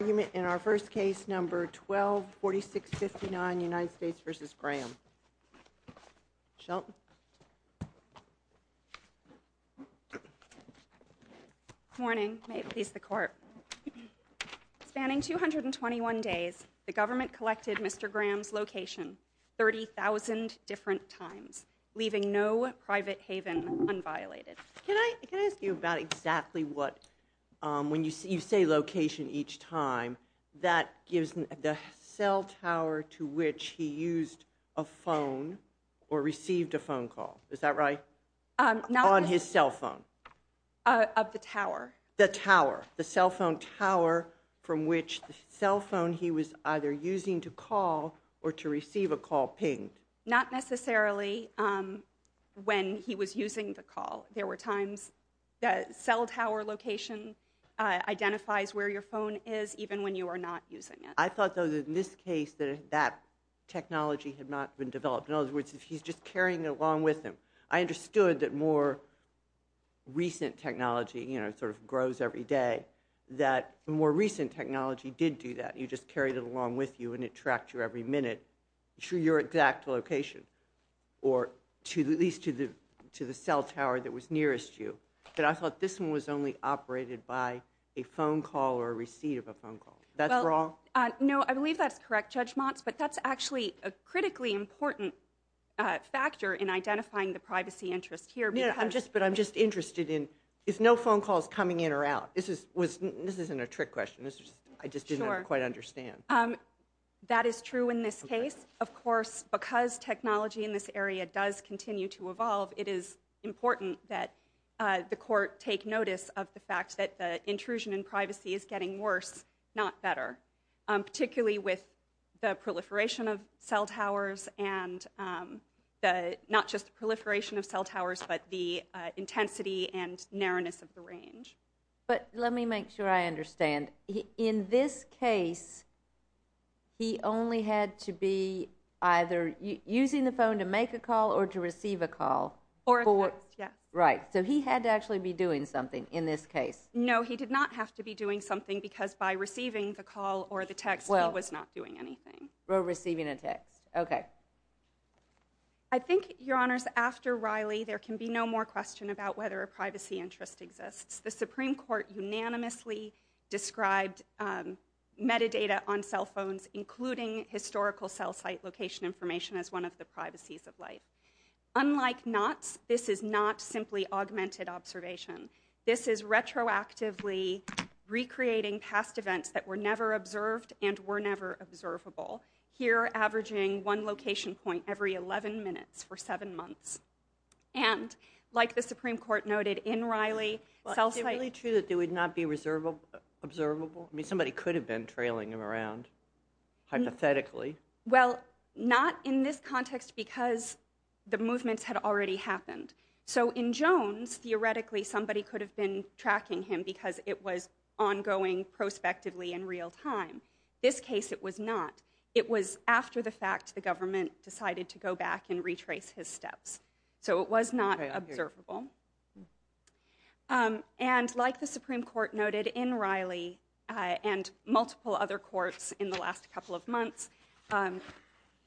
in our first case number 124659 United States v. Graham. Shelton. Good morning. May it please the court. Spanning 221 days, the government collected Mr. Graham's location 30,000 different times, leaving no private haven unviolated. Can I ask you about exactly what, when you say location each time, that gives the cell tower to which he used a phone or received a phone call. Is that right? Not on his cell phone. Of the tower. The tower, the cell phone tower from which the cell phone he was either using to call or to receive a call pinged. Not necessarily when he was using the call. There were times that cell tower location identifies where your phone is even when you are not using it. I thought that in this case that that technology had not been developed. In other words, if he's just carrying it along with him, I understood that more recent technology, you know, sort of grows every day, that more recent technology did do that. You just carried it along with you and it tracked you every minute. To your exact location, or at least to the cell tower that was nearest you. But I thought this one was only operated by a phone call or a receipt of a phone call. That's wrong? No, I believe that's correct, Judge Motz, but that's actually a critically important factor in identifying the privacy interest here. Yeah, but I'm just interested in, is no phone calls coming in or out? This isn't a trick question, I just didn't quite understand. That is true in this case. Of course, because technology in this area does continue to evolve, it is important that the court take notice of the fact that the intrusion in privacy is getting worse, not better. Particularly with the proliferation of cell towers and the, not just the proliferation of cell towers, but the intensity and narrowness of the range. But let me make sure I understand. In this case, he only had to be either using the phone to make a call or to receive a call. Or a text, yeah. Right, so he had to actually be doing something in this case. No, he did not have to be doing something because by receiving the call or the text, he was not doing anything. Well, receiving a text, okay. I think, Your Honors, after Riley, there can be no more question about whether a privacy interest exists. The Supreme Court unanimously described metadata on cell phones, including historical cell site location information, as one of the privacies of life. Unlike Knott's, this is not simply augmented observation. This is retroactively recreating past events that were never observed and were never observable. Here, averaging one location point every 11 minutes for seven months. And like the Supreme Court noted in Riley, cell site- Is it really true that they would not be observable? I mean, somebody could have been trailing him around, hypothetically. Well, not in this context because the movements had already happened. So in Jones, theoretically, somebody could have been tracking him because it was ongoing prospectively in real time. This case, it was not. It was after the fact the government decided to go back and retrace his steps. So it was not observable. And like the Supreme Court noted in Riley and multiple other courts in the last couple of months,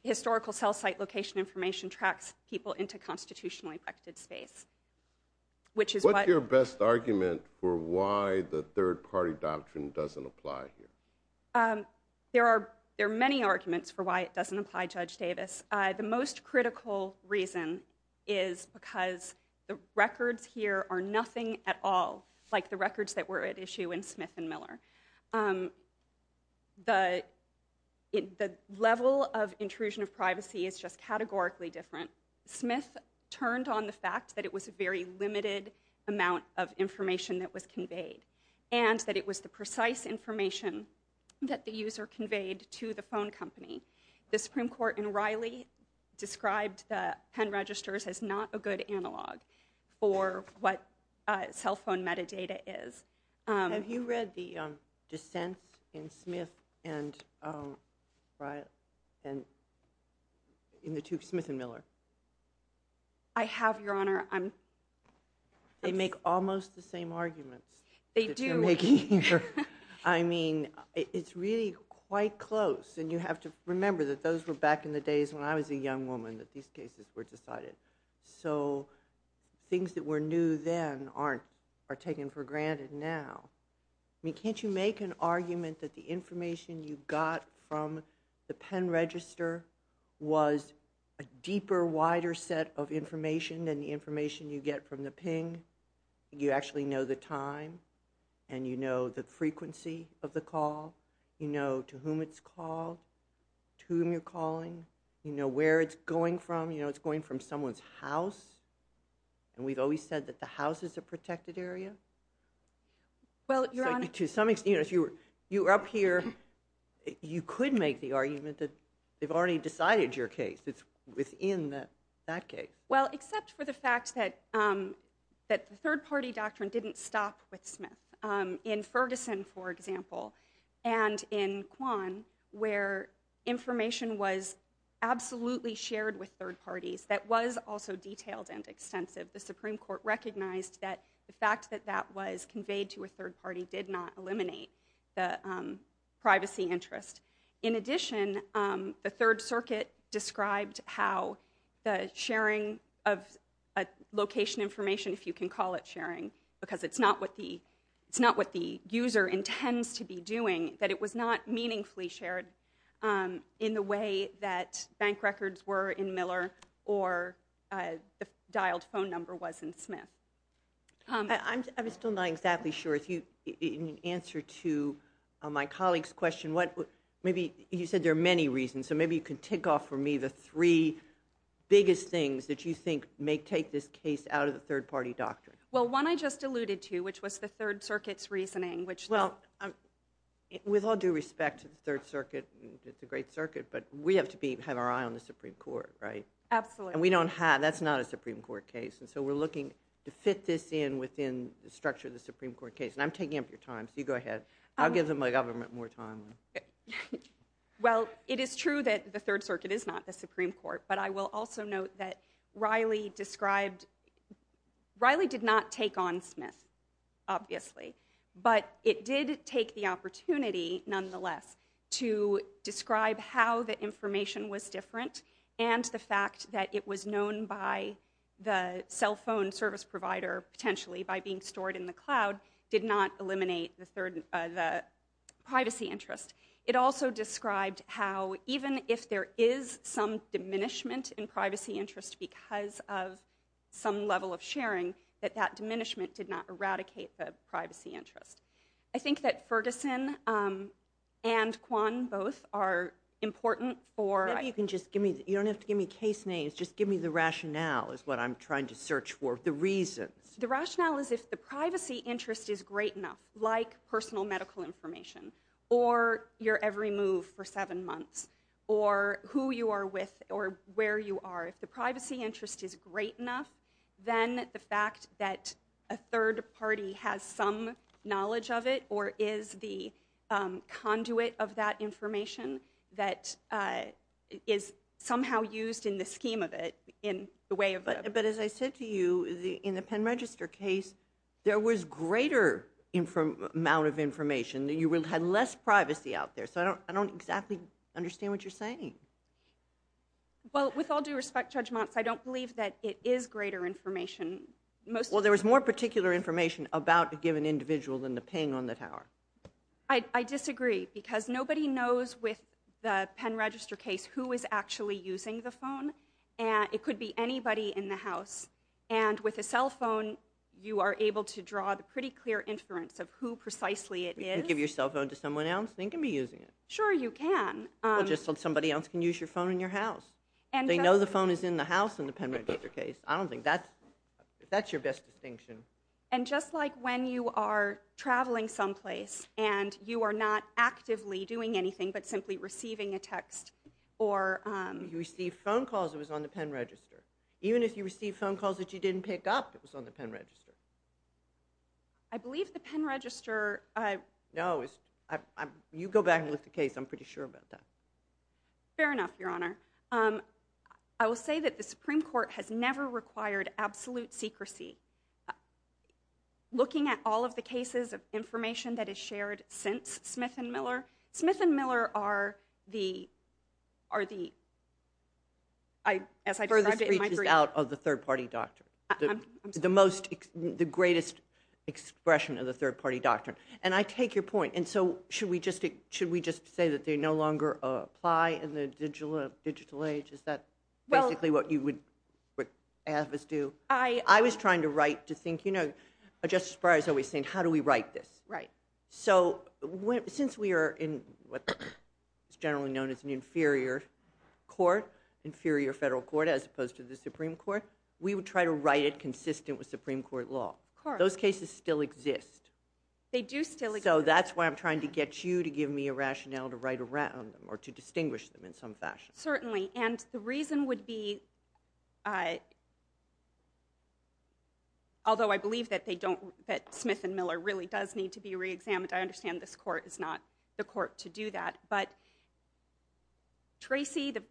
historical cell site location information tracks people into constitutionally protected space, which is- What's your best argument for why the third party doctrine doesn't apply here? There are many arguments for why it doesn't apply, Judge Davis. The most critical reason is because the records here are nothing at all like the records that were at issue in Smith and Miller. The level of intrusion of privacy is just categorically different. Smith turned on the fact that it was a very limited amount of information that was conveyed. And that it was the precise information that the user conveyed to the phone company. The Supreme Court in Riley described the pen registers as not a good analog for what cell phone metadata is. Have you read the dissents in Smith and- in the two- Smith and Miller? I have, Your Honor. They make almost the same arguments that you're making here. They do. I mean, it's really quite close. And you have to remember that those were back in the days when I was a young woman that these cases were decided. So things that were new then aren't- are taken for granted now. I mean, can't you make an argument that the information you got from the pen register was a deeper, wider set of information than the information you get from the ping? You actually know the time and you know the frequency of the call. You know to whom it's called, to whom you're calling. You know where it's going from. You know it's going from someone's house. And we've always said that the house is a protected area. Well, Your Honor- To some extent, if you were up here, you could make the argument that they've already decided your case. It's within that case. Well, except for the fact that the third-party doctrine didn't stop with Smith. In Ferguson, for example, and in Kwan, where information was absolutely shared with third parties that was also detailed and extensive, the Supreme Court recognized that the fact that that was conveyed to a third party did not eliminate the privacy interest. In addition, the Third Circuit described how the sharing of location information, if you can call it sharing, because it's not what the user intends to be doing, that it was not meaningfully shared in the way that bank records were in Miller or the dialed phone number was in Smith. I'm still not exactly sure. In answer to my colleague's question, you said there are many reasons. So maybe you can tick off for me the three biggest things that you think may take this case out of the third-party doctrine. Well, one I just alluded to, which was the Third Circuit's reasoning, which- Well, with all due respect to the Third Circuit and the Great Circuit, but we have to have our eye on the Supreme Court, right? Absolutely. And we don't have- that's not a Supreme Court case. And so we're looking to fit this in within the structure of the Supreme Court case. And I'm taking up your time, so you go ahead. I'll give them my government more time. Well, it is true that the Third Circuit is not the Supreme Court, but I will also note that Riley described- Riley did not take on Smith, obviously. But it did take the opportunity, nonetheless, to describe how the information was different and the fact that it was known by the cell phone service provider, potentially by being stored in the cloud, did not eliminate the privacy interest. It also described how even if there is some diminishment in privacy interest because of some level of sharing, that that diminishment did not eradicate the privacy interest. I think that Ferguson and Kwan both are important for- You don't have to give me case names, just give me the rationale is what I'm trying to search for, the reasons. The rationale is if the privacy interest is great enough, like personal medical information, or your every move for seven months, or who you are with or where you are. If the privacy interest is great enough, then the fact that a third party has some knowledge of it or is the conduit of that information that is somehow used in the scheme of it, in the way of- But as I said to you, in the pen register case, there was greater amount of information. You had less privacy out there. So I don't exactly understand what you're saying. Well, with all due respect, Judge Montz, I don't believe that it is greater information. about a given individual than the ping on the tower. I disagree. Because nobody knows with the pen register case who is actually using the phone. It could be anybody in the house. And with a cell phone, you are able to draw the pretty clear inference of who precisely it is. You can give your cell phone to someone else, and they can be using it. Sure, you can. Well, just somebody else can use your phone in your house. They know the phone is in the house in the pen register case. I don't think that's- That's your best distinction. And just like when you are traveling someplace, and you are not actively doing anything but simply receiving a text or... You received phone calls. It was on the pen register. Even if you received phone calls that you didn't pick up, it was on the pen register. I believe the pen register... No, you go back and look at the case. I'm pretty sure about that. Fair enough, Your Honor. I will say that the Supreme Court has never required absolute secrecy. Looking at all of the cases of information that is shared since Smith and Miller, Smith and Miller are the... As I described it in my brief... The furthest reaches out of the third-party doctrine. I'm sorry. The greatest expression of the third-party doctrine. And I take your point. And so should we just say that they no longer apply in the digital age? Is that basically what you would have us do? I... I was trying to write to think... You know, Justice Breyer is always saying, how do we write this? So since we are in what is generally known as an inferior court, inferior federal court, as opposed to the Supreme Court, we would try to write it consistent with Supreme Court law. Those cases still exist. They do still exist. So that's why I'm trying to get you to give me a rationale to write around them or to distinguish them in some fashion. Certainly. And the reason would be... Although I believe that they don't... That Smith and Miller really does need to be reexamined. I understand this court is not the court to do that. But Tracy, the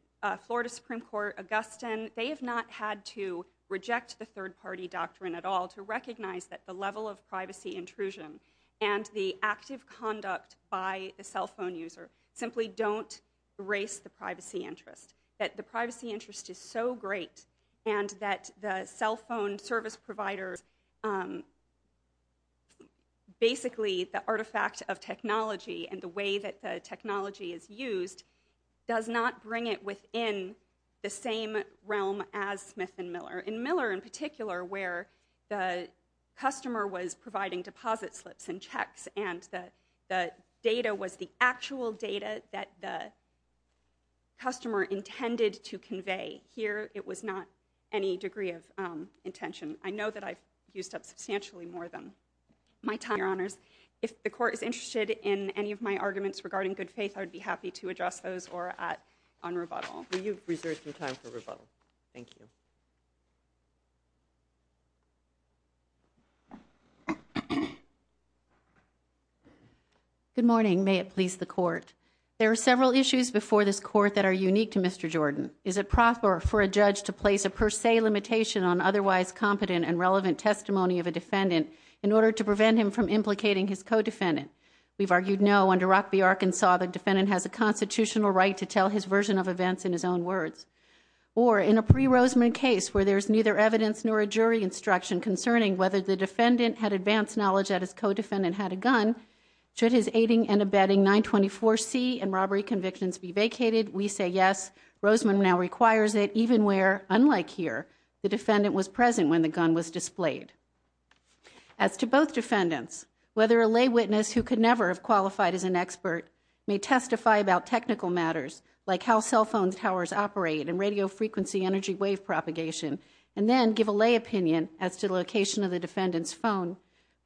Florida Supreme Court, Augustine, they have not had to reject the third-party doctrine at all to recognize that the level of privacy intrusion and the active conduct by the cell phone user simply don't erase the privacy interest. That the privacy interest is so great and that the cell phone service provider... Basically, the artifact of technology and the way that the technology is used does not bring it within the same realm as Smith and Miller. In Miller in particular, where the customer was providing deposit slips and checks that the customer intended to convey. Here, it was not any degree of intention. I know that I've used up substantially more than my time. Your Honors, if the court is interested in any of my arguments regarding good faith, I would be happy to address those on rebuttal. You've reserved some time for rebuttal. Thank you. Good morning. May it please the court. There are several issues before this court that are unique to Mr. Jordan. Is it proper for a judge to place a per se limitation on otherwise competent and relevant testimony of a defendant in order to prevent him from implicating his co-defendant? We've argued no under Rock v. Arkansas the defendant has a constitutional right to tell his version of events in his own words. Or in a pre-Roseman case where there's neither evidence nor a jury instruction concerning whether the defendant had advanced knowledge that his co-defendant had a gun, should his aiding and abetting 924C and robbery convictions be vacated? We say yes. Roseman now requires it even where, unlike here, the defendant was present when the gun was displayed. As to both defendants, whether a lay witness who could never have qualified as an expert may testify about technical matters like how cell phone towers operate and radio frequency energy wave propagation and then give a lay opinion as to the location of the defendant's phone,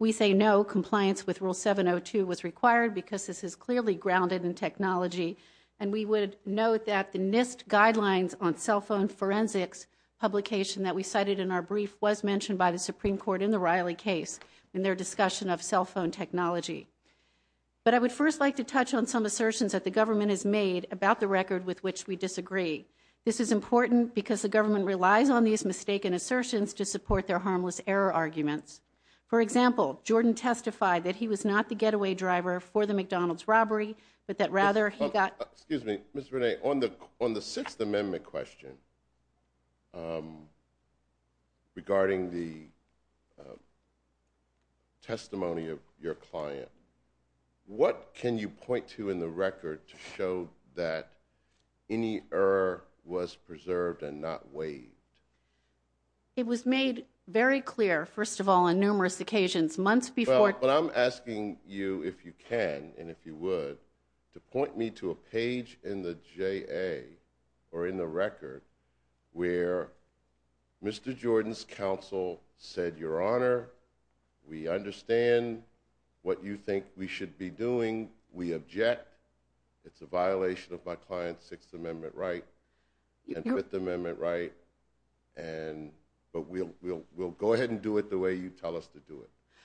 we say no. Compliance with Rule 702 was required because this is clearly grounded in technology and we would note that the NIST guidelines on cell phone forensics publication that we cited in our brief was mentioned by the Supreme Court in the Riley case in their discussion of cell phone technology. But I would first like to touch on some assertions that the government has made about the record with which we disagree. This is important because the government relies on these mistaken assertions to support their harmless error arguments. For example, Jordan testified that he was not the getaway driver for the McDonald's robbery, but that rather he got... Excuse me. Mr. Rene, on the Sixth Amendment question regarding the testimony of your client, what can you point to in the record to show that any error was preserved and not waived? It was made very clear, first of all, on numerous occasions, months before... Well, but I'm asking you, if you can and if you would, to point me to a page in the JA or in the record where Mr. Jordan's counsel said, Your Honor, we understand what you think we should be doing. We object. It's a violation of my client's Sixth Amendment right and Fifth Amendment right. And...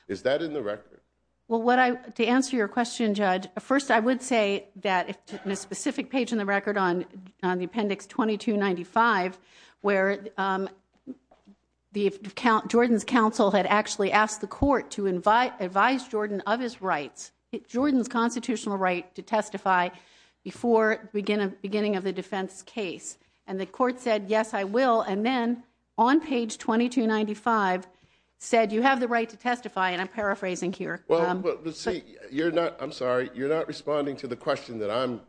Is that in the record? Well, to answer your question, Judge, first I would say that in a specific page in the record on Appendix 2295 where Jordan's counsel had actually asked the court to advise Jordan of his rights, Jordan's constitutional right to testify before the beginning of the defense case. And the court said, Yes, I will. And then on page 2295 said, You have the right to testify and I'm paraphrasing here. You're not, I'm sorry, you're not responding to the question that I'm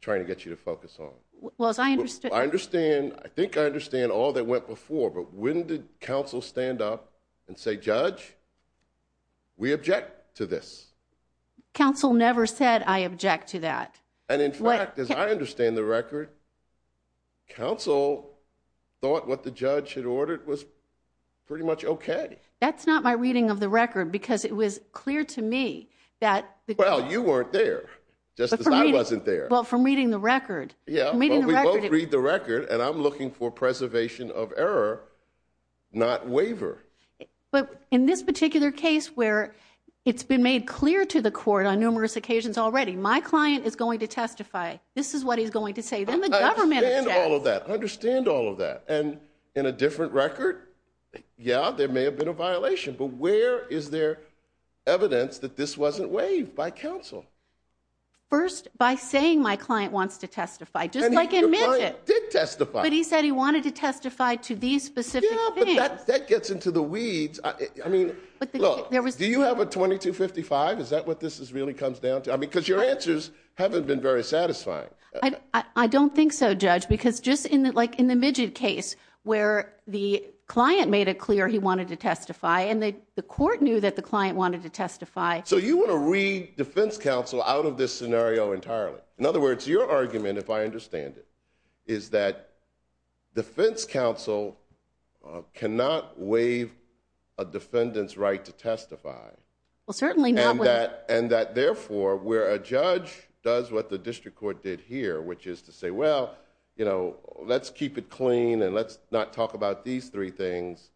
trying to get you to focus on. Well, as I understand... I think I understand all that went before, but when did counsel stand up and say, Judge, we object to this. Counsel never said, I object to that. And in fact, as I understand the record, counsel thought what the judge had ordered was pretty much okay. That's not my reading of the record because it was clear to me that... Well, you weren't there just as I wasn't there. Well, from reading the record... Yeah, but we both read the record and I'm looking for preservation of error, not waiver. But in this particular case where it's been made clear to the court on numerous occasions already, My client is going to testify. This is what he's going to say. Then the government... I understand all of that. I understand all of that. And in a different record, yeah, there may have been a violation. But where is there evidence that this wasn't waived by counsel? First, by saying my client wants to testify, just like in Midget. Your client did testify. But he said he wanted to testify to these specific things. Yeah, but that gets into the weeds. I mean, look, do you have a 2255? Is that what this really comes down to? I mean, because your answers haven't been very satisfying. I don't think so, Judge, because just like in the Midget case where the client made it clear he wanted to testify and the court knew that the client wanted to testify. So you want to read defense counsel out of this scenario entirely? In other words, your argument, if I understand it, is that defense counsel cannot waive a defendant's right to testify. Well, certainly not... And that therefore, where a judge does what the district court did here, which is to say, well, let's keep it clean and let's not talk about these three things.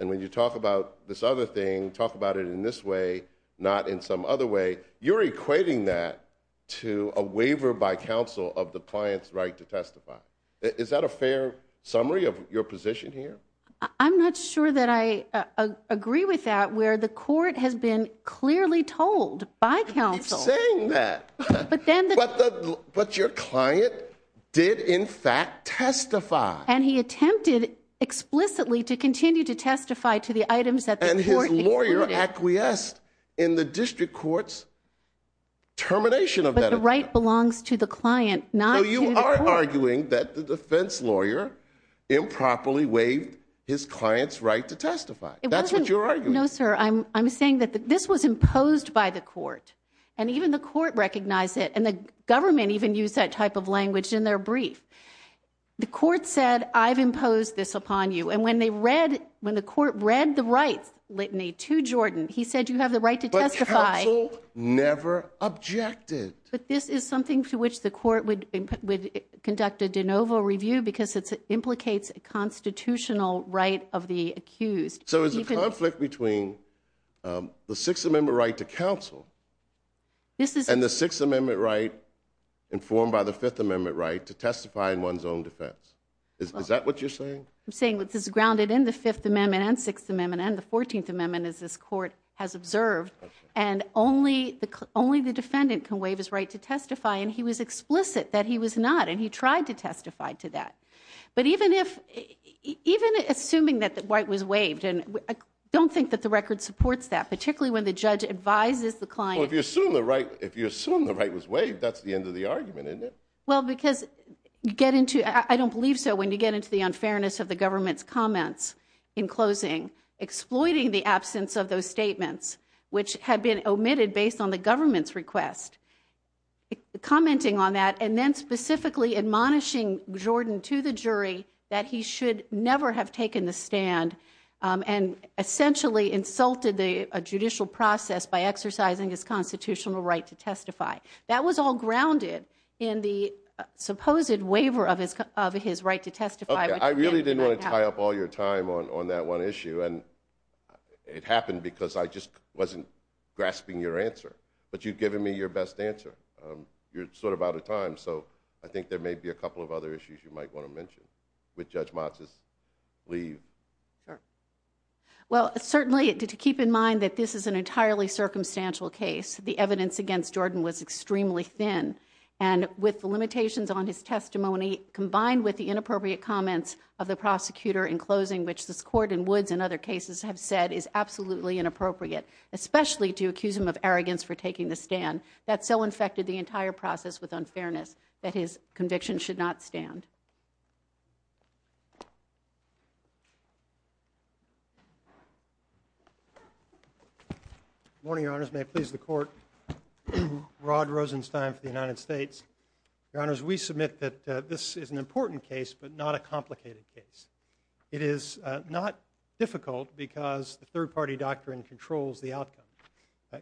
And when you talk about this other thing, talk about it in this way, not in some other way, you're equating that to a waiver by counsel of the client's right to testify. Is that a fair summary of your position here? I'm not sure that I agree with that, where the court has been clearly told by counsel. But your client did, in fact, testify. And he attempted explicitly to continue to testify to the items that the court included. And his lawyer acquiesced in the district court's termination of that. But the right belongs to the client, not to the court. So you are arguing that the defense lawyer improperly waived his client's right to testify. That's what you're arguing. No, sir. I'm saying that this was imposed by the court. And even the court recognized it. And the government even used that type of language in their brief. The court said, I've imposed this upon you. And when the court read the right litany to Jordan, he said, you have the right to testify. But counsel never objected. But this is something to which the court would conduct a de novo review because it implicates a constitutional right of the accused. So there's a conflict between the Sixth Amendment right to counsel and the Sixth Amendment right informed by the Fifth Amendment right to testify in one's own defense. Is that what you're saying? I'm saying this is grounded in the Fifth Amendment and Sixth Amendment and the Fourteenth Amendment as this court has observed. And only the defendant can waive his right to testify and he was explicit that he was not. And he tried to testify to that. But even if even assuming that the right was waived, and I don't think that the record supports that, particularly when the judge advises the client. Well, if you assume the right if you assume the right was waived, that's the end of the argument, isn't it? Well, because you get into, I don't believe so when you get into the unfairness of the government's comments in closing, exploiting the absence of those statements which had been omitted based on the government's request. Commenting on that and then specifically admonishing Jordan to the jury that he should never have taken the stand and essentially insulted a judicial process by exercising his constitutional right to testify. That was all grounded in the supposed waiver of his right to testify. Okay, I really didn't want to tie up all your time on that one issue and it happened because I just wasn't grasping your answer. But you've given me your best answer. You're sort of out of time. So, I think there may be a couple of other issues you might want to mention. Would Judge Matsis leave? Well, certainly to keep in mind that this is an entirely circumstantial case. The evidence against Jordan was extremely thin and with the limitations on his testimony combined with the inappropriate comments of the prosecutor in closing, which this court in Woods and other cases have said is absolutely inappropriate especially to accuse him of arrogance for taking the stand. That so infected the entire process with unfairness that his conviction should not stand. Good morning, Your Honors. May it please the court Rod Rosenstein for the United States. Your Honors, we submit that this is an important case but not a complicated case. It is not difficult because the third party doctrine controls the outcome.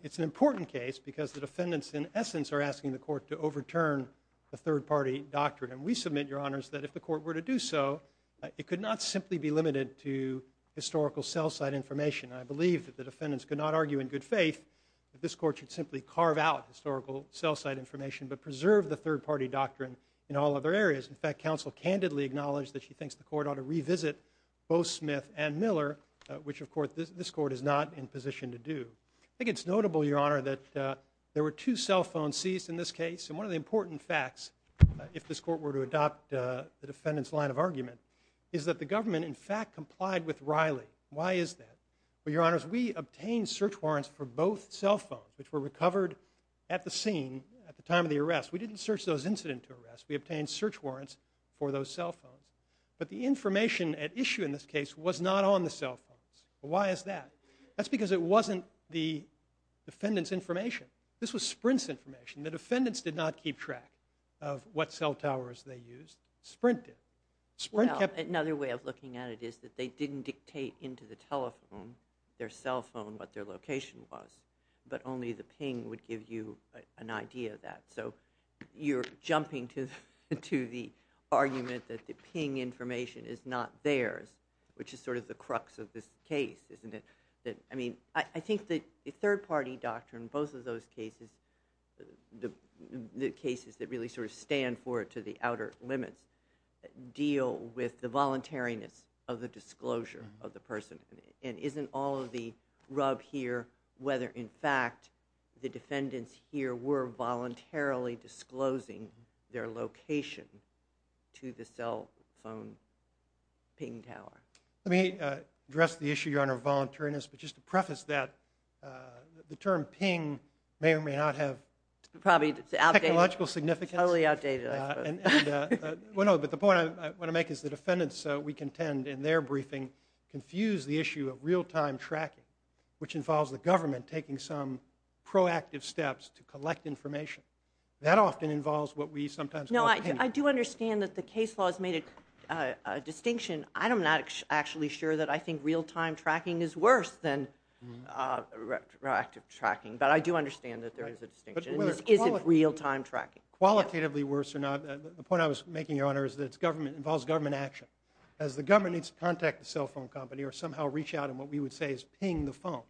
It's an important case because the defendants in essence are asking the court to overturn the third party doctrine and we submit, Your Honors, that if the court were to do so it could not simply be limited to historical cell site information. I believe that the defendants could not argue in good faith that this court should simply carve out historical cell site information but preserve the third party doctrine in all other areas. In fact, counsel candidly acknowledged that she thinks the court ought to revisit both Smith and Miller which, of course, this court is not in position to do. I think it's notable Your Honor, that there were two cell phones seized in this case and one of the important facts if this court were to adopt the defendants line of argument is that the government in fact complied with Riley. Why is that? Your Honors, we obtained search warrants for both cell phones which were recovered at the scene at the time of the arrest. We didn't search those incident to arrest. We obtained search warrants for those cell phones. But the information at issue in this case was not on the cell phones. Why is that? That's because it wasn't the defendants information. This was Sprint's information. The defendants did not keep track of what cell towers they used. Sprint did. Another way of looking at it is that they didn't dictate into the telephone their cell phone what their location was but only the ping would give you an idea of that. You're jumping to the argument that the ping information is not theirs which is sort of the crux of this case. I think the third party doctrine both of those cases the cases that really sort of stand for it to the outer limits deal with the voluntariness of the disclosure of the person. Isn't all of the rub here whether in fact the defendants here were voluntarily disclosing their location to the cell phone ping tower? Let me address the issue of voluntariness but just to preface that the term ping may or may not have technological significance. Totally outdated I suppose. The point I want to make is the defendants we contend in their briefing confuse the issue of real time tracking which involves the government taking some proactive steps to collect information. That often involves what we sometimes call pinging. I do understand that the case laws made a distinction. I am not actually sure that I think real time tracking is worse than proactive tracking but I do understand that there is a distinction. Is it real time tracking? Qualitatively worse or not the point I was making your honor is that it involves government action as the government needs to contact the cell phone company or somehow reach out and what we would say is ping the phone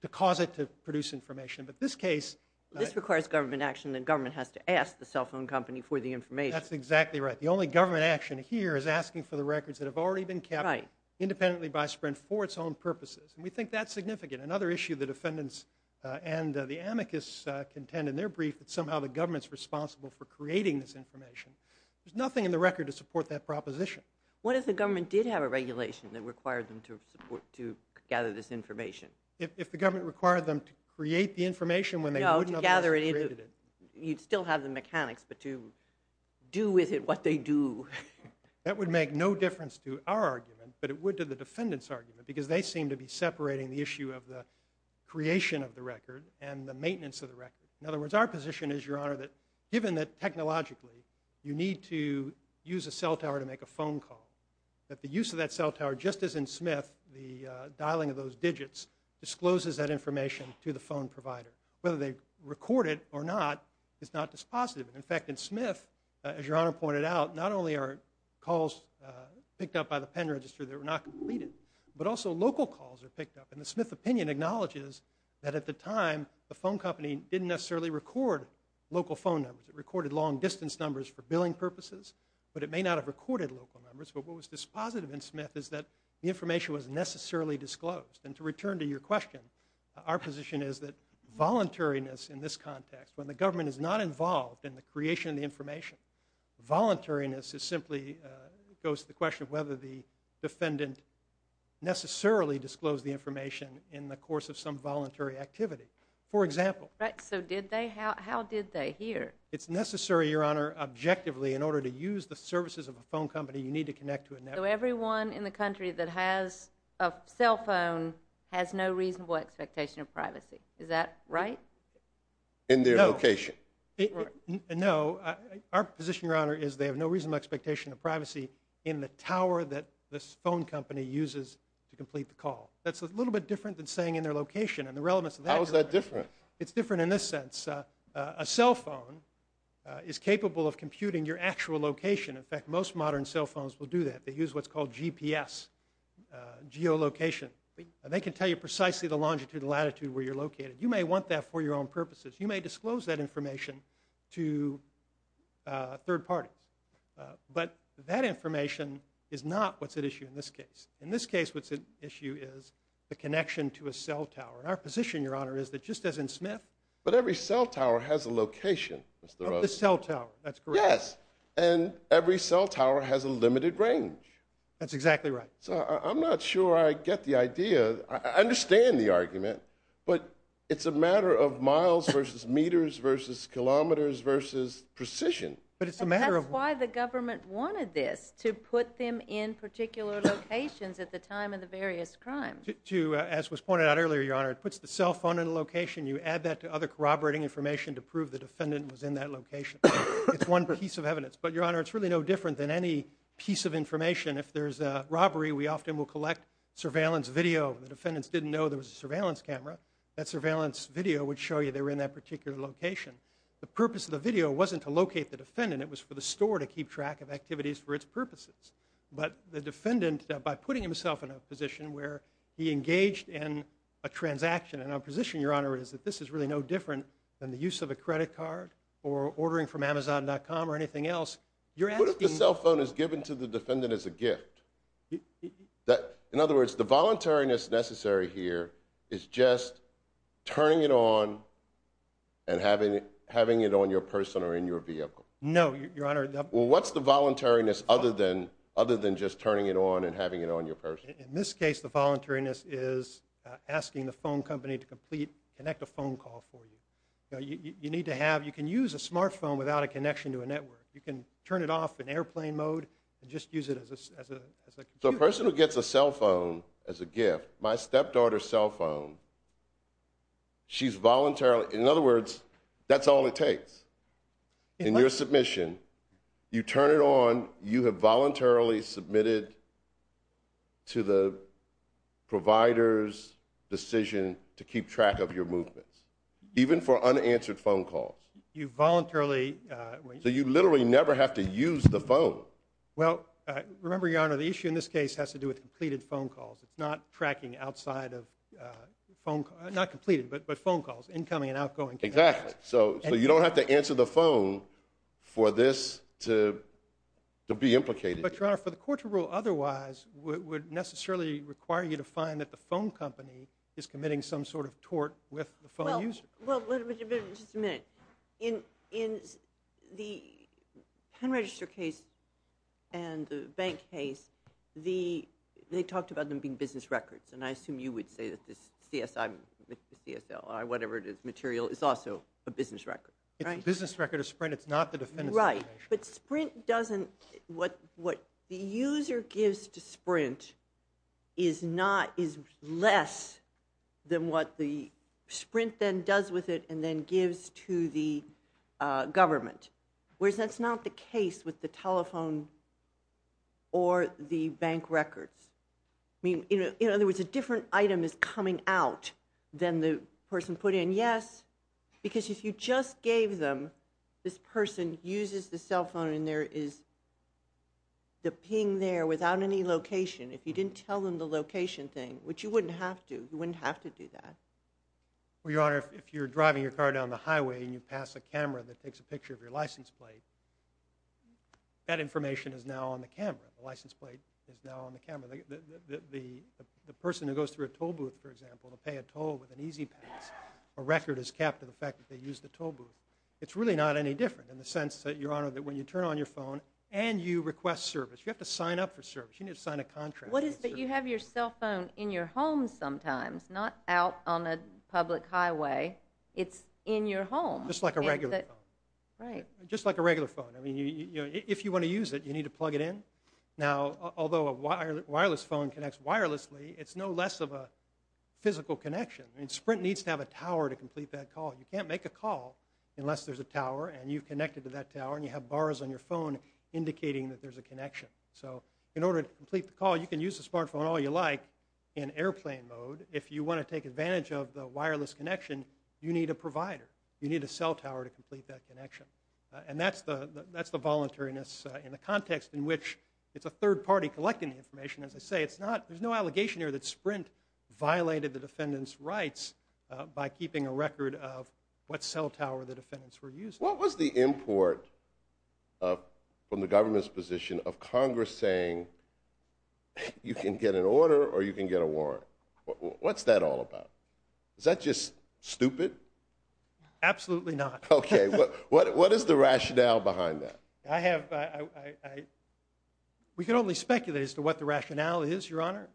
to cause it to produce information but this case This requires government action and the government has to ask the cell phone company for the information. That's exactly right. The only government action here is asking for the records that have already been kept independently by Sprint for its own purposes and we think that's significant. Another issue the defendants and the amicus contend in their brief that somehow the government's responsible for creating this information. There's nothing in the record to support that proposition. What if the government did have a regulation that required them to gather this information? If the government required them to create the information when they wouldn't otherwise have created it. You'd still have the mechanics but to do with it what they do. That would make no difference to our argument but it would to the defendants argument because they seem to be separating the issue of the creation of the record and the maintenance of the record. In other words our position is your honor that given that technologically you need to use a cell tower to make a phone call that the use of that cell tower just as in Smith the dialing of those digits discloses that information to the phone provider whether they record it or not it's not dispositive. In fact in Smith as your honor pointed out not only are calls picked up by the pen register that were not completed but also local calls are picked up and the Smith opinion acknowledges that at the time the phone company didn't necessarily record local phone numbers it recorded long distance numbers for billing purposes but it may not have recorded local numbers but what was dispositive in Smith is that the information was necessarily disclosed and to return to your question our position is that voluntariness in this context when the government is not involved in the creation of the information, voluntariness is simply goes to the question of whether the defendant necessarily disclosed the information in the course of some voluntary activity for example. Right so did they? How did they hear? It's necessary your honor objectively in order to use the services of a phone company you need to connect to a network. So everyone in the country that has a cell phone has no reasonable expectation of privacy. Is that right? In their location. No our position your honor is they have no reasonable expectation of privacy in the tower that this phone company uses to complete the call. That's a little bit different than saying in their location and the relevance of that. How is that different? It's different in this sense a cell phone is capable of computing your actual location. In fact most modern cell phones will do that. They use what's called GPS geolocation and they can tell you precisely the longitude and latitude where you're located. You may want that for your own purposes. You may disclose that information to third parties. But that information is not what's at issue in this case. In this case what's at issue is the connection to a cell tower. Our position your honor is that just as in Smith. But every cell tower has a location. The cell tower that's correct. Yes and every cell tower has a limited range. That's exactly right. I'm not sure I get the idea. I understand the argument but it's a matter of miles versus meters versus kilometers versus precision. That's why the government wanted this. To put them in particular locations at the time of the various crimes. To as was pointed out earlier your honor. It puts the cell phone in a location you add that to other corroborating information to prove the defendant was in that location. It's one piece of evidence. But your honor it's really no different than any piece of information. If there's a robbery we often will collect surveillance video. The defendants didn't know there was a surveillance camera. That surveillance video would show you they were in that particular location. The purpose of the video wasn't to locate the defendant. It was for the store to keep track of activities for it's purposes. But the defendant by putting himself in a position where he engaged in a transaction. And our position your honor is that this is really no different than the use of a credit card or ordering from Amazon.com or anything else. What if the cell phone is given to the defendant as a gift? In other words the voluntariness necessary here is just turning it on and having it on your person or in your vehicle. No your honor. Well what's the voluntariness other than just turning it on and having it on your person? In this case the voluntariness is asking the phone company to complete a phone call for you. You need to have, you can use a smart phone without a connection to a network. You can turn it off in airplane mode and just use it as a computer. So a person who gets a cell phone as a gift, my step daughter's cell phone she's voluntarily, in other words that's all it takes. In your submission you turn it on, you have voluntarily submitted to the provider's decision to keep track of your movements. Even for unanswered phone calls. You voluntarily So you literally never have to use the phone. Well remember your honor the issue in this case has to do with completed phone calls. It's not tracking outside of phone, not completed but phone calls incoming and outgoing. Exactly. So you don't have to answer the phone for this to be implicated. But your honor for the court to rule otherwise would necessarily require you to find that the phone company is committing some sort of tort with the phone user. Just a minute. In the pen register case and the bank case they talked about them being business records and I assume you would say that this CSI CSL or whatever it is material is also a business record. It's a business record of Sprint. It's not the defendant's Right. But Sprint doesn't what the user gives to Sprint is less than what the Sprint then does with it and then gives to the government. Whereas that's not the case with the telephone or the bank records. In other words a different item is coming out than the person put in. Yes because if you just gave them this person uses the cell phone and there is the ping there without any location. If you didn't tell them the location thing, which you wouldn't have to you wouldn't have to do that. Well Your Honor if you're driving your car down the highway and you pass a camera that takes a picture of your license plate that information is now on the camera. The license plate is now on the camera. The person who goes through a toll booth for example to pay a toll with an E-ZPass a record is kept to the fact that they used the toll booth. It's really not any different in the sense that Your Honor that when you turn on your phone and you request service. You have to sign up for service. You need to sign a contract. But you have your cell phone in your home sometimes not out on a public highway. It's in your home. Just like a regular phone. Just like a regular phone. If you want to use it you need to plug it in. Now although a wireless phone connects wirelessly it's no less of a physical connection. Sprint needs to have a tower to complete that call. You can't make a call unless there's a tower and you've connected to that tower and you have a connection. So in order to complete the call you can use the smartphone all you like in airplane mode. If you want to take advantage of the wireless connection you need a provider. You need a cell tower to complete that connection. And that's the voluntariness in the context in which it's a third party collecting the information. As I say there's no allegation here that Sprint violated the defendant's rights by keeping a record of what cell tower the defendants were using. What was the import from the government's position of Congress saying you can get an order or you can get a warrant. What's that all about? Is that just stupid? Absolutely not. What is the rationale behind that? I have... We can only speculate as to what the rationale is your honor.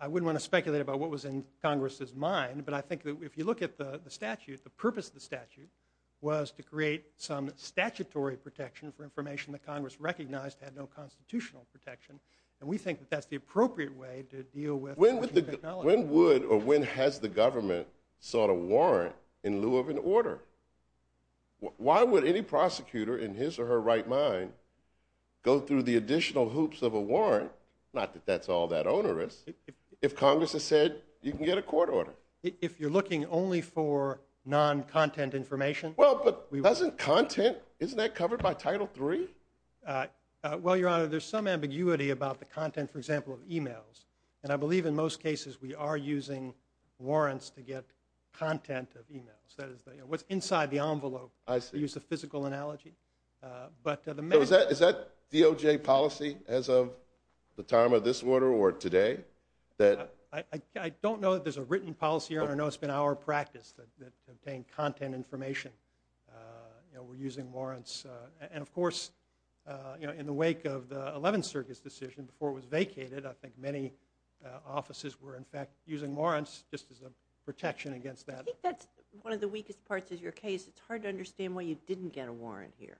I wouldn't want to speculate about what was in Congress's mind but I think that if you look at the statute the purpose of the statute was to create some statutory protection for information that Congress recognized had no constitutional protection and we think that's the appropriate way to deal with... When would or when has the government sought a warrant in lieu of an order? Why would any prosecutor in his or her right mind go through the additional hoops of a warrant, not that that's all that onerous, if Congress has said you can get a court order? If you're looking only for non-content information... Well, but doesn't content... Isn't that covered by Title III? Well, your honor, there's some ambiguity about the content, for example, of emails and I believe in most cases we are using warrants to get content of emails. What's inside the envelope. I see. Is that DOJ policy as of the time of this order or today? I don't know if there's a written policy, your honor. I know it's been our practice to obtain content information. We're using warrants and of course in the wake of the Eleventh Circuit's decision before it was vacated I think many offices were in fact using warrants just as a protection against that. I think that's one of the weakest parts of your case. It's hard to understand why you didn't get a warrant here.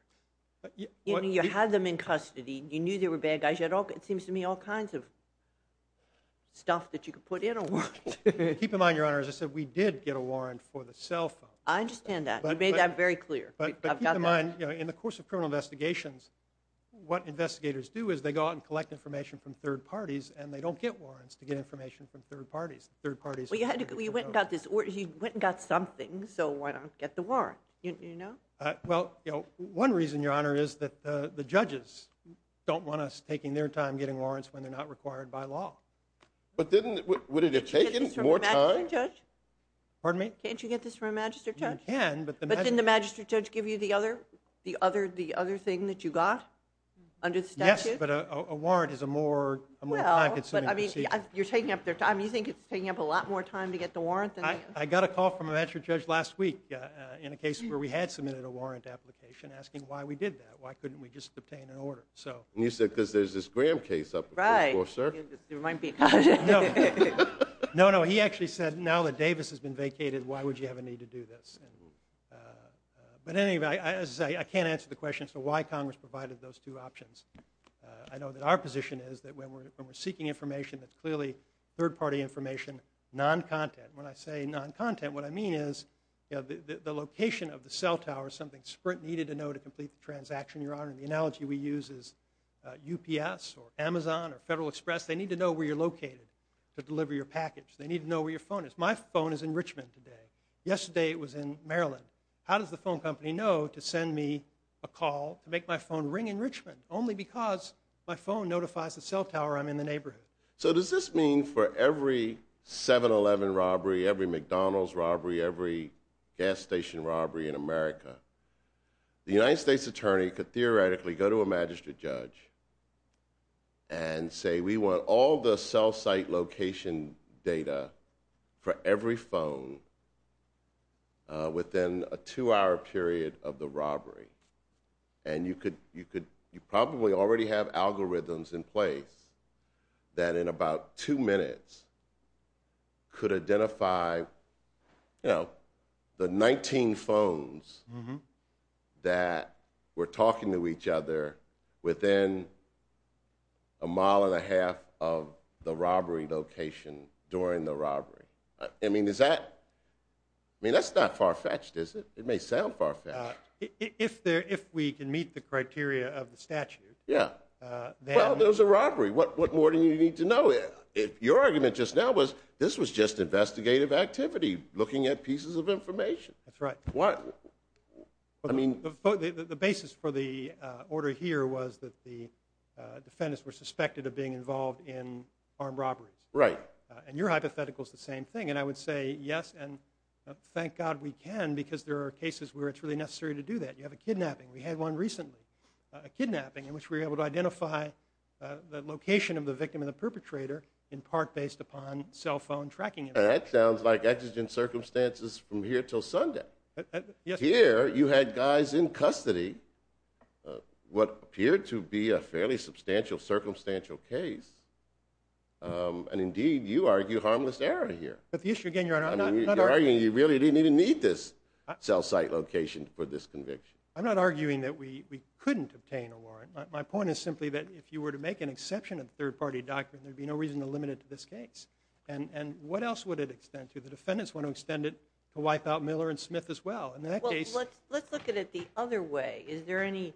You had them in custody. You knew they were bad guys. You had all... stuff that you could put in a warrant. Keep in mind, your honor, as I said, we did get a warrant for the cell phone. I understand that. You made that very clear. But keep in mind, you know, in the course of criminal investigations, what investigators do is they go out and collect information from third parties and they don't get warrants to get information from third parties. You went and got something, so why not get the warrant, you know? One reason, your honor, is that the judges don't want us taking their time getting warrants when they're not required by law. Would it have taken more time? Pardon me? Can't you get this from a magistrate judge? You can, but... But didn't the magistrate judge give you the other thing that you got? Yes, but a warrant is a more time-consuming procedure. You're taking up their time. You think it's taking up a lot more time to get the warrant? I got a call from a magistrate judge last week in a case where we had submitted a warrant application asking why we did that. Why couldn't we just obtain an order? You said because there's this Graham case up before, sir. It might be. No, no. He actually said, now that Davis has been vacated, why would you have a need to do this? But anyway, I can't answer the question as to why Congress provided those two options. I know that our position is that when we're seeking information that's clearly third-party information, non-content. When I say non-content, what I mean is the location of the cell tower is something Sprint needed to know to complete the transaction, Your Honor. The analogy we use is UPS or Amazon or Federal Express. They need to know where you're located to deliver your package. They need to know where your phone is. My phone is in Richmond today. Yesterday it was in Maryland. How does the phone company know to send me a call to make my phone ring in Richmond? Only because my phone notifies the cell tower I'm in the neighborhood. So does this mean for every 7-Eleven robbery, every McDonald's robbery, every gas station robbery in the United States Attorney could theoretically go to a magistrate judge and say we want all the cell site location data for every phone within a two-hour period of the robbery. You probably already have algorithms in place that in about two minutes could identify the 19 phones that were talking to each other within a mile and a half of the robbery location during the robbery. I mean, is that I mean, that's not far-fetched, is it? It may sound far-fetched. If we can meet the criteria of the statute. Yeah. Well, there was a robbery. What more do you need to know? Your argument just now was this was just investigative activity, looking at pieces of I mean... The basis for the order here was that the defendants were suspected of being involved in armed robberies. Right. And your hypothetical is the same thing. And I would say yes, and thank God we can because there are cases where it's really necessary to do that. You have a kidnapping. We had one recently. A kidnapping in which we were able to identify the location of the victim and the perpetrator in part based upon cell phone tracking. And that sounds like exigent circumstances from here you had guys in custody of what appeared to be a fairly substantial, circumstantial case. And indeed, you argue harmless error here. But the issue again, Your Honor, I'm not arguing... You're arguing you really didn't even need this cell site location for this conviction. I'm not arguing that we couldn't obtain a warrant. My point is simply that if you were to make an exception of third-party doctrine, there'd be no reason to limit it to this case. And what else would it extend to? The defendants want to extend it to wipe out Let's look at it the other way. Is there any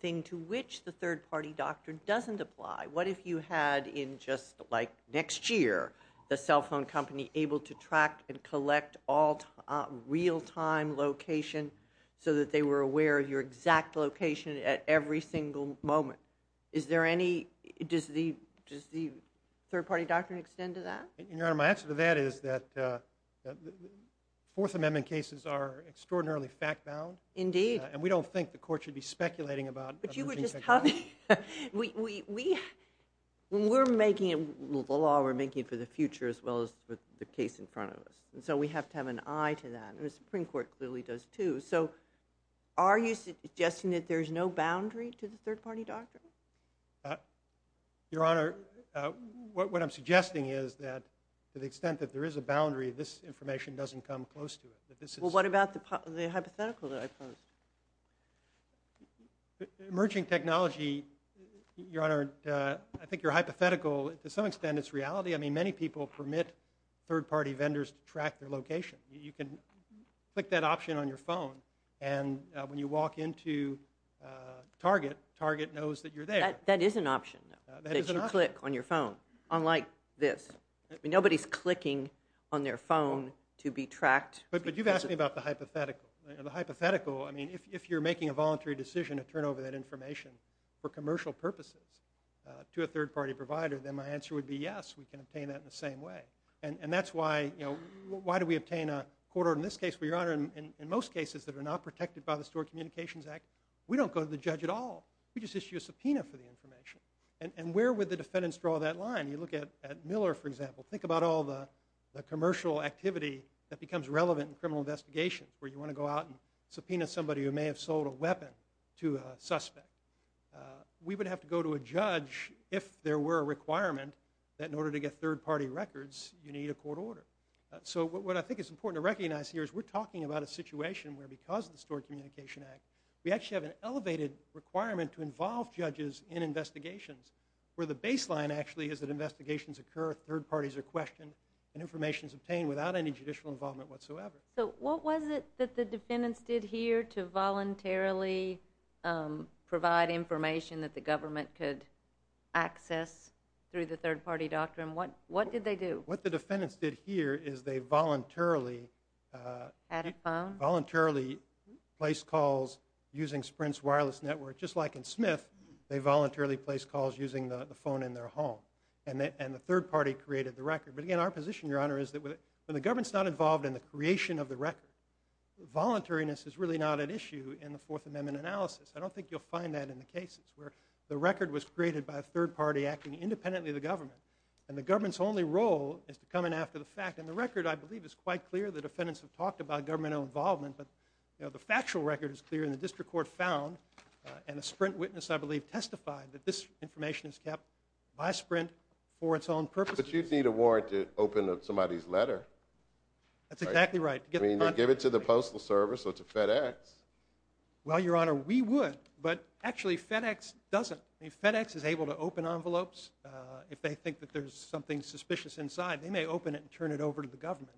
thing to which the third-party doctrine doesn't apply? What if you had in just like next year the cell phone company able to track and collect all real-time location so that they were aware of your exact location at every single moment? Is there any... Does the third-party doctrine extend to that? My answer to that is that the Fourth Amendment cases are extraordinarily fact-bound. And we don't think the Court should be speculating about... But you were just telling me we when we're making the law, we're making it for the future as well as for the case in front of us. And so we have to have an eye to that. And the Supreme Court clearly does too. So are you suggesting that there's no boundary to the third-party doctrine? Your Honor, what I'm suggesting is that to the extent that there is a boundary, this information doesn't come close to it. Well what about the hypothetical that I posed? Emerging technology, Your Honor, I think your hypothetical to some extent is reality. I mean many people permit third-party vendors to track their location. You can click that option on your phone and when you walk into Target, Target knows that you're there. That is an option that you click on your phone. Unlike this. Nobody's clicking on their phone to be tracked. But you've asked me about the hypothetical. The hypothetical, I mean if you're making a voluntary decision to turn over that information for commercial purposes to a third-party provider, then my answer would be yes, we can obtain that in the same way. And that's why you know, why do we obtain a court order in this case where, Your Honor, in most cases that are not protected by the Stored Communications Act, we don't go to the judge at all. We just issue a subpoena for the information. And where would the defendants draw that line? You look at Miller, for example. Think about all the commercial activity that becomes relevant in criminal investigation where you want to go out and subpoena somebody who may have sold a weapon to a suspect. We would have to go to a judge if there were a requirement that in order to get third-party records, you need a court order. So what I think is important to recognize here is we're talking about a situation where because of the Stored Communications Act we actually have an elevated requirement to involve judges in investigations where the baseline actually is that investigations occur, third parties are questioned and information is obtained without any judicial involvement whatsoever. So what was it that the defendants did here to voluntarily provide information that the government could access through the third-party doctrine? What did they do? What the defendants did here is they voluntarily add a phone? Voluntarily place calls using Sprint's wireless network, just like in Smith, they voluntarily place calls using the phone in their home and the third-party created the record. But again, our position, Your Honor, is that when the government's not involved in the creation of the record voluntariness is really not an issue in the Fourth Amendment analysis. I don't think you'll find that in the cases where the record was created by a third-party acting independently of the government and the government's only role is to come in after the fact. And the record, I believe, is quite clear. The defendants have talked about governmental involvement but the factual record is clear and the district court found and a Sprint witness, I believe, testified that this information is kept by Sprint for its own purposes. But you'd need a warrant to open up somebody's letter. That's exactly right. I mean, give it to the Postal Service or to FedEx. Well, Your Honor, we would but actually FedEx doesn't. FedEx is able to open envelopes if they think that there's something suspicious inside. They may open it and turn it over to the government.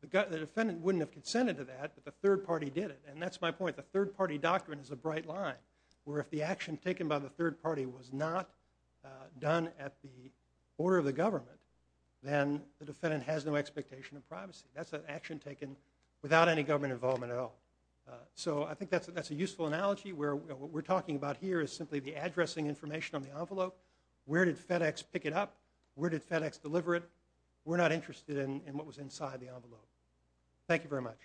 The defendant wouldn't have consented to that but the third party did it. And that's my point. The third-party doctrine is a bright line where if the action taken by the third party was not done at the order of the government then the defendant has no expectation of privacy. That's an action taken without any government involvement at all. So I think that's a useful analogy where what we're talking about here is simply the addressing information on the envelope. Where did FedEx pick it up? Where did FedEx deliver it? We're not interested in what was inside the envelope. Thank you very much.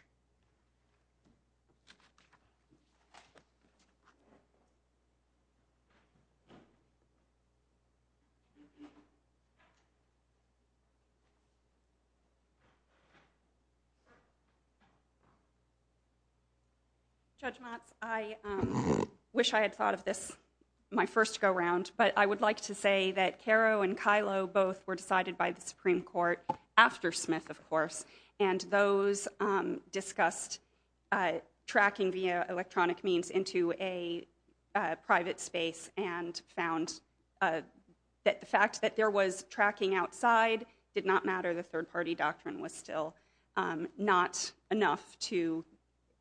Judge Motz, I wish I had thought of this my first go-round but I would like to say that Caro and Kylo both were in the Supreme Court after Smith of course and those discussed tracking via electronic means into a private space and found that the fact that there was tracking outside did not matter. The third-party doctrine was still not enough to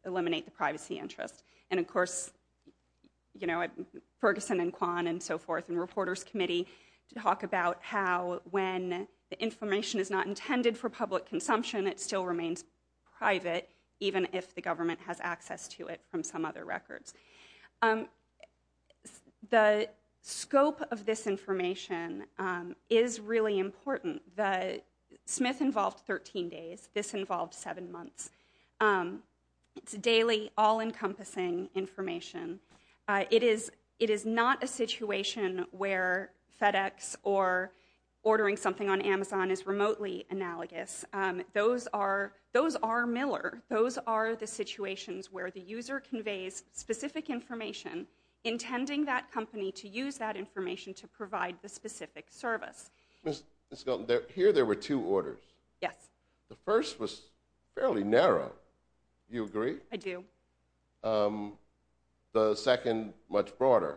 eliminate the privacy interest and of course Ferguson and Kwan and so forth and reporters committee talk about how when information is not intended for public consumption it still remains private even if the government has access to it from some other records. The scope of this information is really important. The Smith involved 13 days. This involved 7 months. It's daily all-encompassing information. It is not a situation where FedEx or ordering something on Amazon is remotely analogous. Those are Miller. Those are the situations where the user conveys specific information intending that company to use that information to provide the specific service. Here there were two orders. Yes. The first was fairly narrow. Do you agree? I do. The second much broader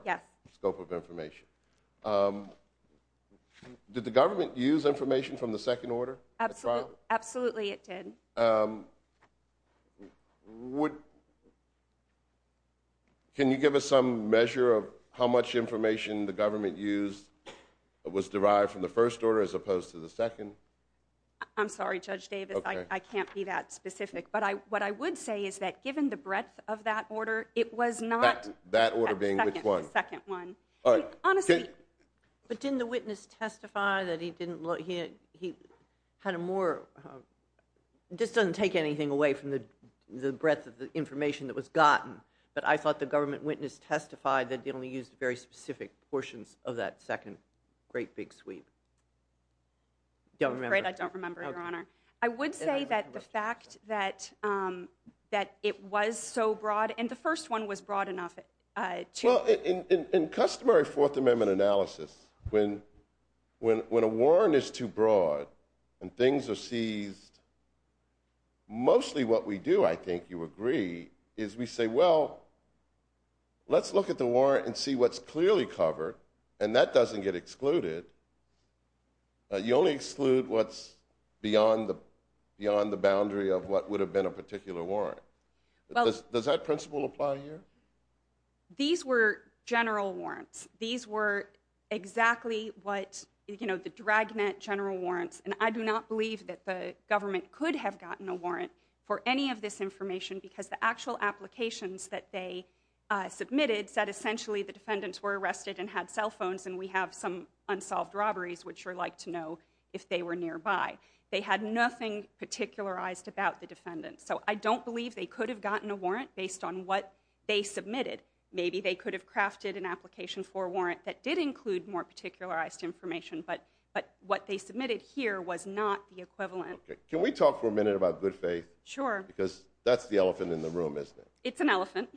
scope of information. Did the government use information from the second order? Absolutely it did. Can you give us some measure of how much information the government used was derived from the first order as opposed to the second? I'm sorry Judge Davis. I can't be that specific but what I would say is that given the breadth of that order it was not the second one. Didn't the witness testify that he had a more just doesn't take anything away from the breadth of the information that was gotten but I thought the government witness testified that they only used very specific portions of that second great big sweep. I'm afraid I don't remember Your Honor. I would say that the fact that that it was so broad and the first one was broad enough Well in customary Fourth Amendment analysis when a warrant is too broad and things are seized mostly what we do I think you agree is we say well let's look at the warrant and see what's clearly covered and that doesn't get excluded you only exclude what's beyond the boundary of what would have been a particular warrant Does that principle apply here? These were general warrants. These were exactly what you know the dragnet general warrants and I do not believe that the government could have gotten a warrant for any of this information because the actual applications that they submitted said essentially the defendants were arrested and had cell phones and we have some unsolved robberies which you would like to know if they were nearby They had nothing particularized about the defendants so I don't believe they could have gotten a warrant based on what they submitted. Maybe they could have crafted an application for a warrant that did include more particularized information but what they submitted here was not the equivalent Can we talk for a minute about good faith? Sure Because that's the elephant in the room isn't it? It's an elephant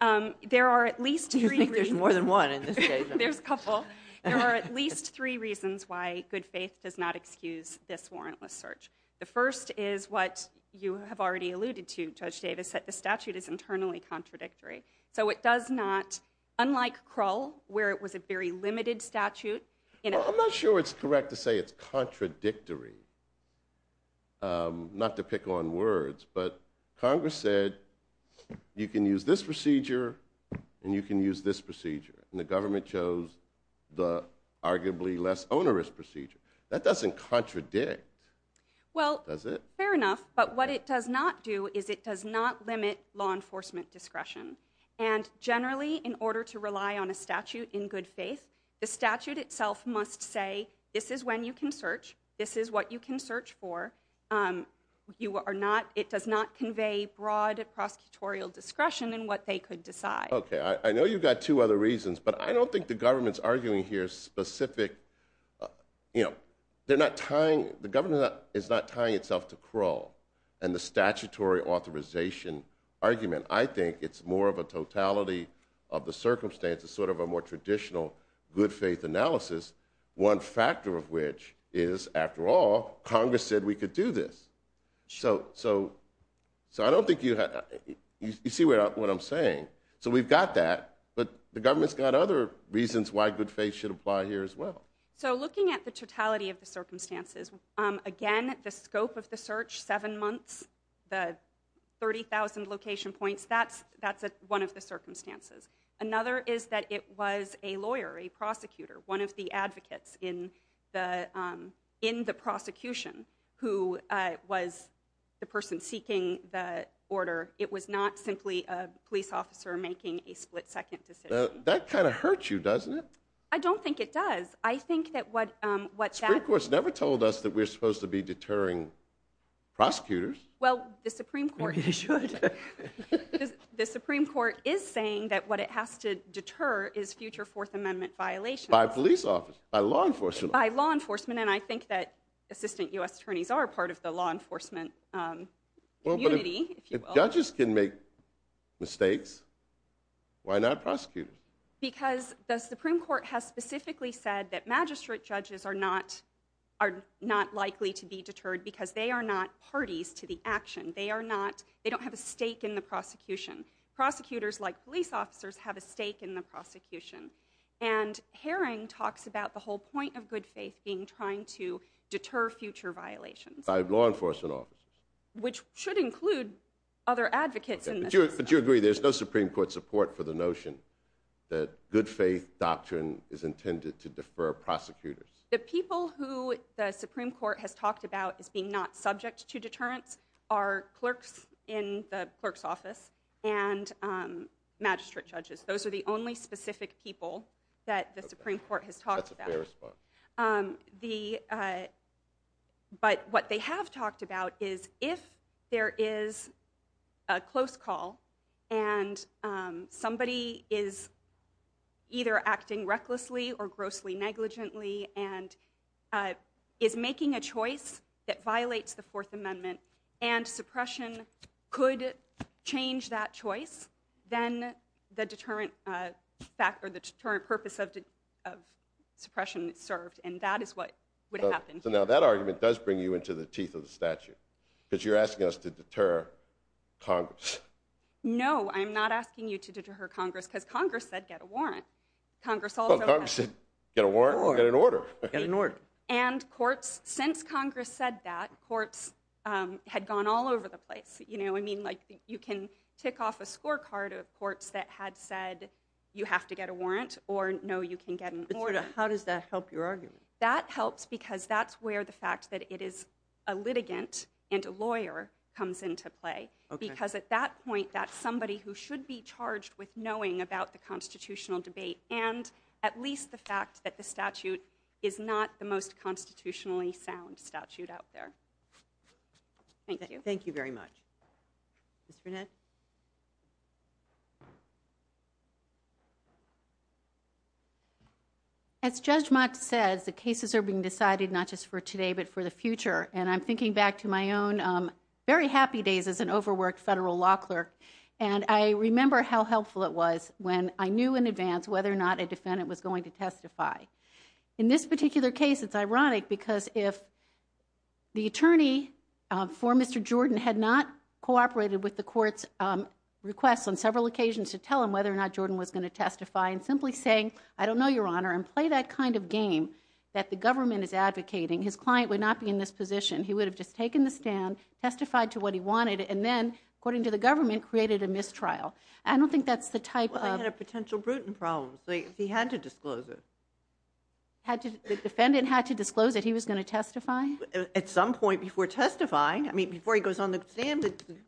There are at least three reasons You think there's more than one in this case? There's a couple There are at least three reasons why good faith does not excuse this warrantless search. The first is what you have already alluded to Judge Davis that the statute is internally contradictory so it does not unlike Krull where it was a very limited statute I'm not sure it's correct to say it's contradictory Not to pick on words but Congress said you can use this procedure and you can use this procedure and the government chose the arguably less onerous procedure that doesn't contradict does it? Well, fair enough but what it does not do is it does not limit law enforcement discretion and generally in order to rely on a statute in good faith the statute itself must say this is when you can search this is what you can search for it does not convey broad prosecutorial discretion in what they could decide I know you've got two other reasons but I don't think the government's arguing here specific the government is not tying itself to Krull and the statutory authorization argument. I think it's more of a totality of the circumstances sort of a more traditional good faith analysis one factor of which is after all Congress said we could do this so I don't think you see what I'm saying so we've got that but the government's got other reasons why good faith should apply here as well so looking at the totality of the circumstances again the scope of the search seven months the 30,000 location points that's one of the circumstances another is that it was a lawyer, a prosecutor, one of the advocates in the prosecution who was the person seeking the order it was not simply a police officer making a split second decision that kind of hurts you doesn't it I don't think it does Supreme Court's never told us that we're supposed to be deterring prosecutors well the Supreme Court is saying that what it has to deter is future fourth amendment violations by law enforcement and I think that assistant U.S. attorneys are part of the law enforcement community if judges can make mistakes, why not prosecutors because the Supreme Court has specifically said that magistrate judges are not likely to be deterred because they are not parties to the action they don't have a stake in the prosecution prosecutors like police officers have a stake in the prosecution and Herring talks about the whole point of good faith being trying to deter future violations which should include other advocates there's no Supreme Court support for the notion that good faith doctrine is intended to defer prosecutors the people who the Supreme Court has talked about as being not subject to deterrence are clerks in the clerk's office and magistrate judges those are the only specific people that the Supreme Court has talked about that's a fair response the but what they have talked about is if there is a close call and somebody is either acting recklessly or grossly negligently and is making a choice that violates the fourth amendment and suppression could change that choice then the deterrent purpose of suppression is served and that is what would happen here. So now that argument does bring you into the teeth of the statute because you're asking us to deter Congress. No I'm not asking you to deter Congress because Congress said get a warrant Congress said get a warrant get an order and courts since Congress said that courts had gone all over the place you know I mean like you can tick off a scorecard of courts that had said you have to get a warrant or no you can get an order how does that help your argument? That helps because that's where the fact that it is a litigant and a lawyer comes into play because at that point that's somebody who should be charged with knowing about the constitutional debate and at least the fact that the statute sound statute out there Thank you. Thank you very much Ms. Burnett As Judge Mott says the cases are being decided not just for today but for the future and I'm thinking back to my own very happy days as an overworked federal law clerk and I remember how helpful it was when I knew in advance whether or not a defendant was going to testify. In this particular case it's ironic because if the attorney for Mr. Jordan had not cooperated with the courts request on several occasions to tell him whether or not Jordan was going to testify and simply saying I don't know your honor and play that kind of game that the government is advocating his client would not be in this position he would have just taken the stand testified to what he wanted and then according to the government created a mistrial I don't think that's the type of Well he had a potential Bruton problem so he had to disclose it The defendant had to disclose that he was going to testify? At some point before testifying I mean before he goes on the stand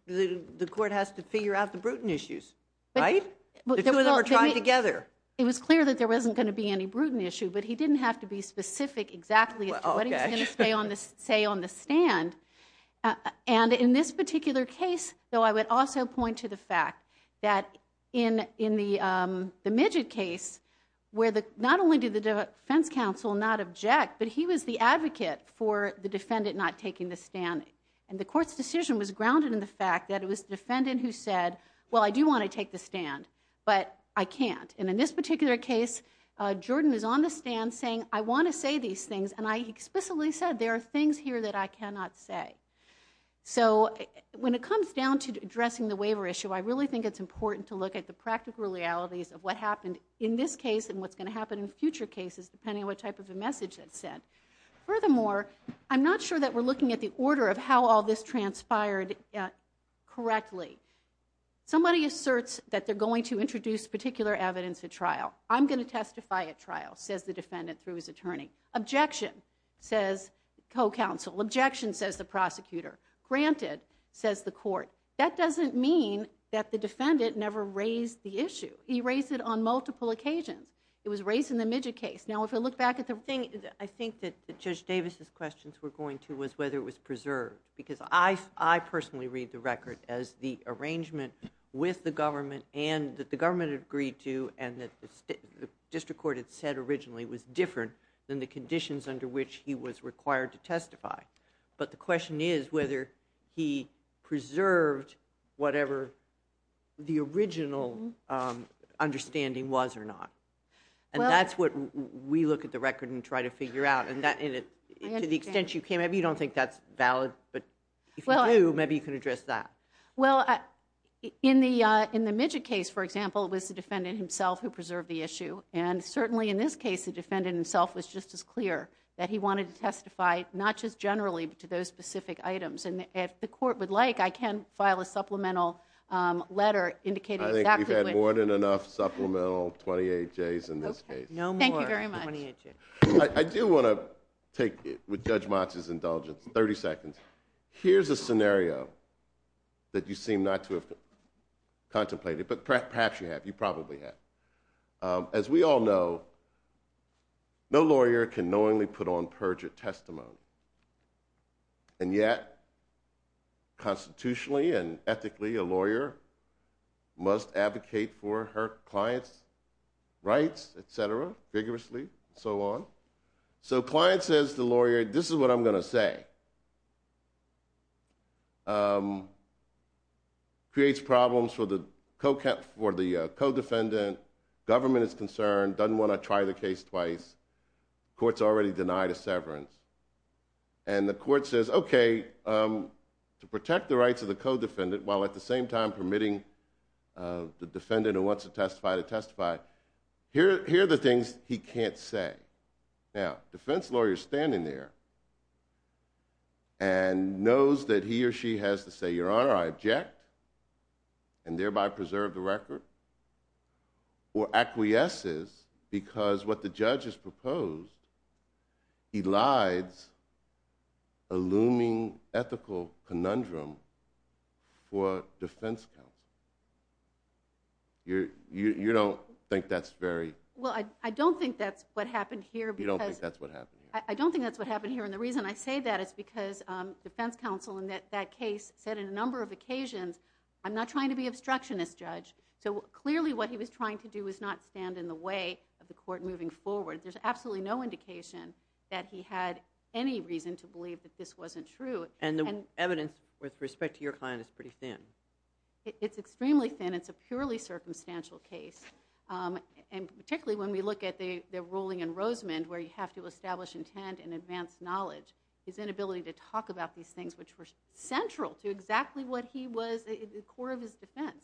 the court has to figure out the Bruton issues The two of them are tied together It was clear that there wasn't going to be any Bruton issue but he didn't have to be specific exactly as to what he was going to say on the stand and in this particular case though I would also point to the fact that in the Midget case where not only did the defense counsel not object but he was the advocate for the defendant not taking the stand and the court's decision was grounded in the fact that it was the defendant who said well I do want to take the stand but I can't and in this particular case Jordan is on the stand saying I want to say these things and I explicitly said there are things here that I cannot say so when it comes down to addressing the waiver issue I really think it's important to look at the practical realities of what happened in this case and what's going to happen in future cases depending on what type of a message it sent. Furthermore I'm not sure that we're looking at the order of how all this transpired correctly somebody asserts that they're going to introduce particular evidence at trial I'm going to testify at trial says the defendant through his attorney. Objection says co-counsel. Objection says the prosecutor. Granted says the court. That doesn't mean that the defendant never raised the issue. He raised it on multiple occasions. It was raised in the Midget case. Now if you look back at the I think that Judge Davis' questions were going to was whether it was preserved because I personally read the record as the arrangement with the government and that the government agreed to and that the district court had said originally was different than the conditions under which he was required to testify but the question is whether he preserved whatever the original understanding was or not and that's what we look at the record and try to figure out and to the extent you can maybe you don't think that's valid but if you do maybe you can address that Well in the Midget case for example it was the defendant himself who preserved the issue and certainly in this case the defendant himself was just as clear that he wanted to testify not just generally but to those specific items and if the court would like I can file a supplemental letter indicating exactly what I think we've had more than enough supplemental 28Js in this case. No more Thank you very much I do want to take with Judge Matsi's indulgence 30 seconds here's a scenario that you seem not to have contemplated but perhaps you have you probably have as we all know no lawyer can knowingly put on purge a testimony and yet constitutionally and ethically a lawyer must advocate for her client's rights etc. vigorously and so on so client says to the lawyer this is what I'm going to say creates problems for the co-defendant government is concerned doesn't want to try the case twice court's already denied a severance and the court says okay protect the rights of the co-defendant while at the same time permitting the defendant who wants to testify to testify here are the things he can't say now defense lawyer standing there and knows that he or she has to say your honor I object and thereby preserve the record or acquiesces because what the judge has proposed elides a looming ethical conundrum for defense counsel you don't think that's very well I don't think that's what happened here because I don't think that's what happened here and the reason I say that is because defense counsel in that case said in a number of occasions I'm not trying to be obstructionist judge so clearly what he was trying to do is not stand in the way of the court moving forward there's absolutely no indication that he had any reason to believe that this wasn't true and the evidence with respect to your client is pretty thin it's extremely thin it's a purely circumstantial case particularly when we look at the ruling in Rosemond where you have to establish intent and advance knowledge his inability to talk about these things which were central to exactly what he was the core of his defense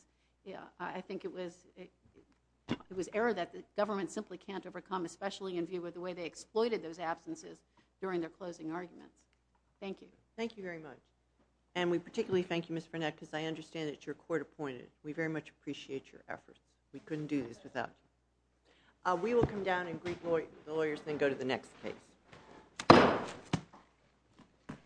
I think it was it was error that the government simply can't overcome especially in view of the way they exploited those absences during their closing arguments. Thank you. Thank you very much and we particularly thank you Ms. Burnett because I understand that your court appointed we very much appreciate your efforts we couldn't do this without you we will come down and greet the lawyers and then go to the next case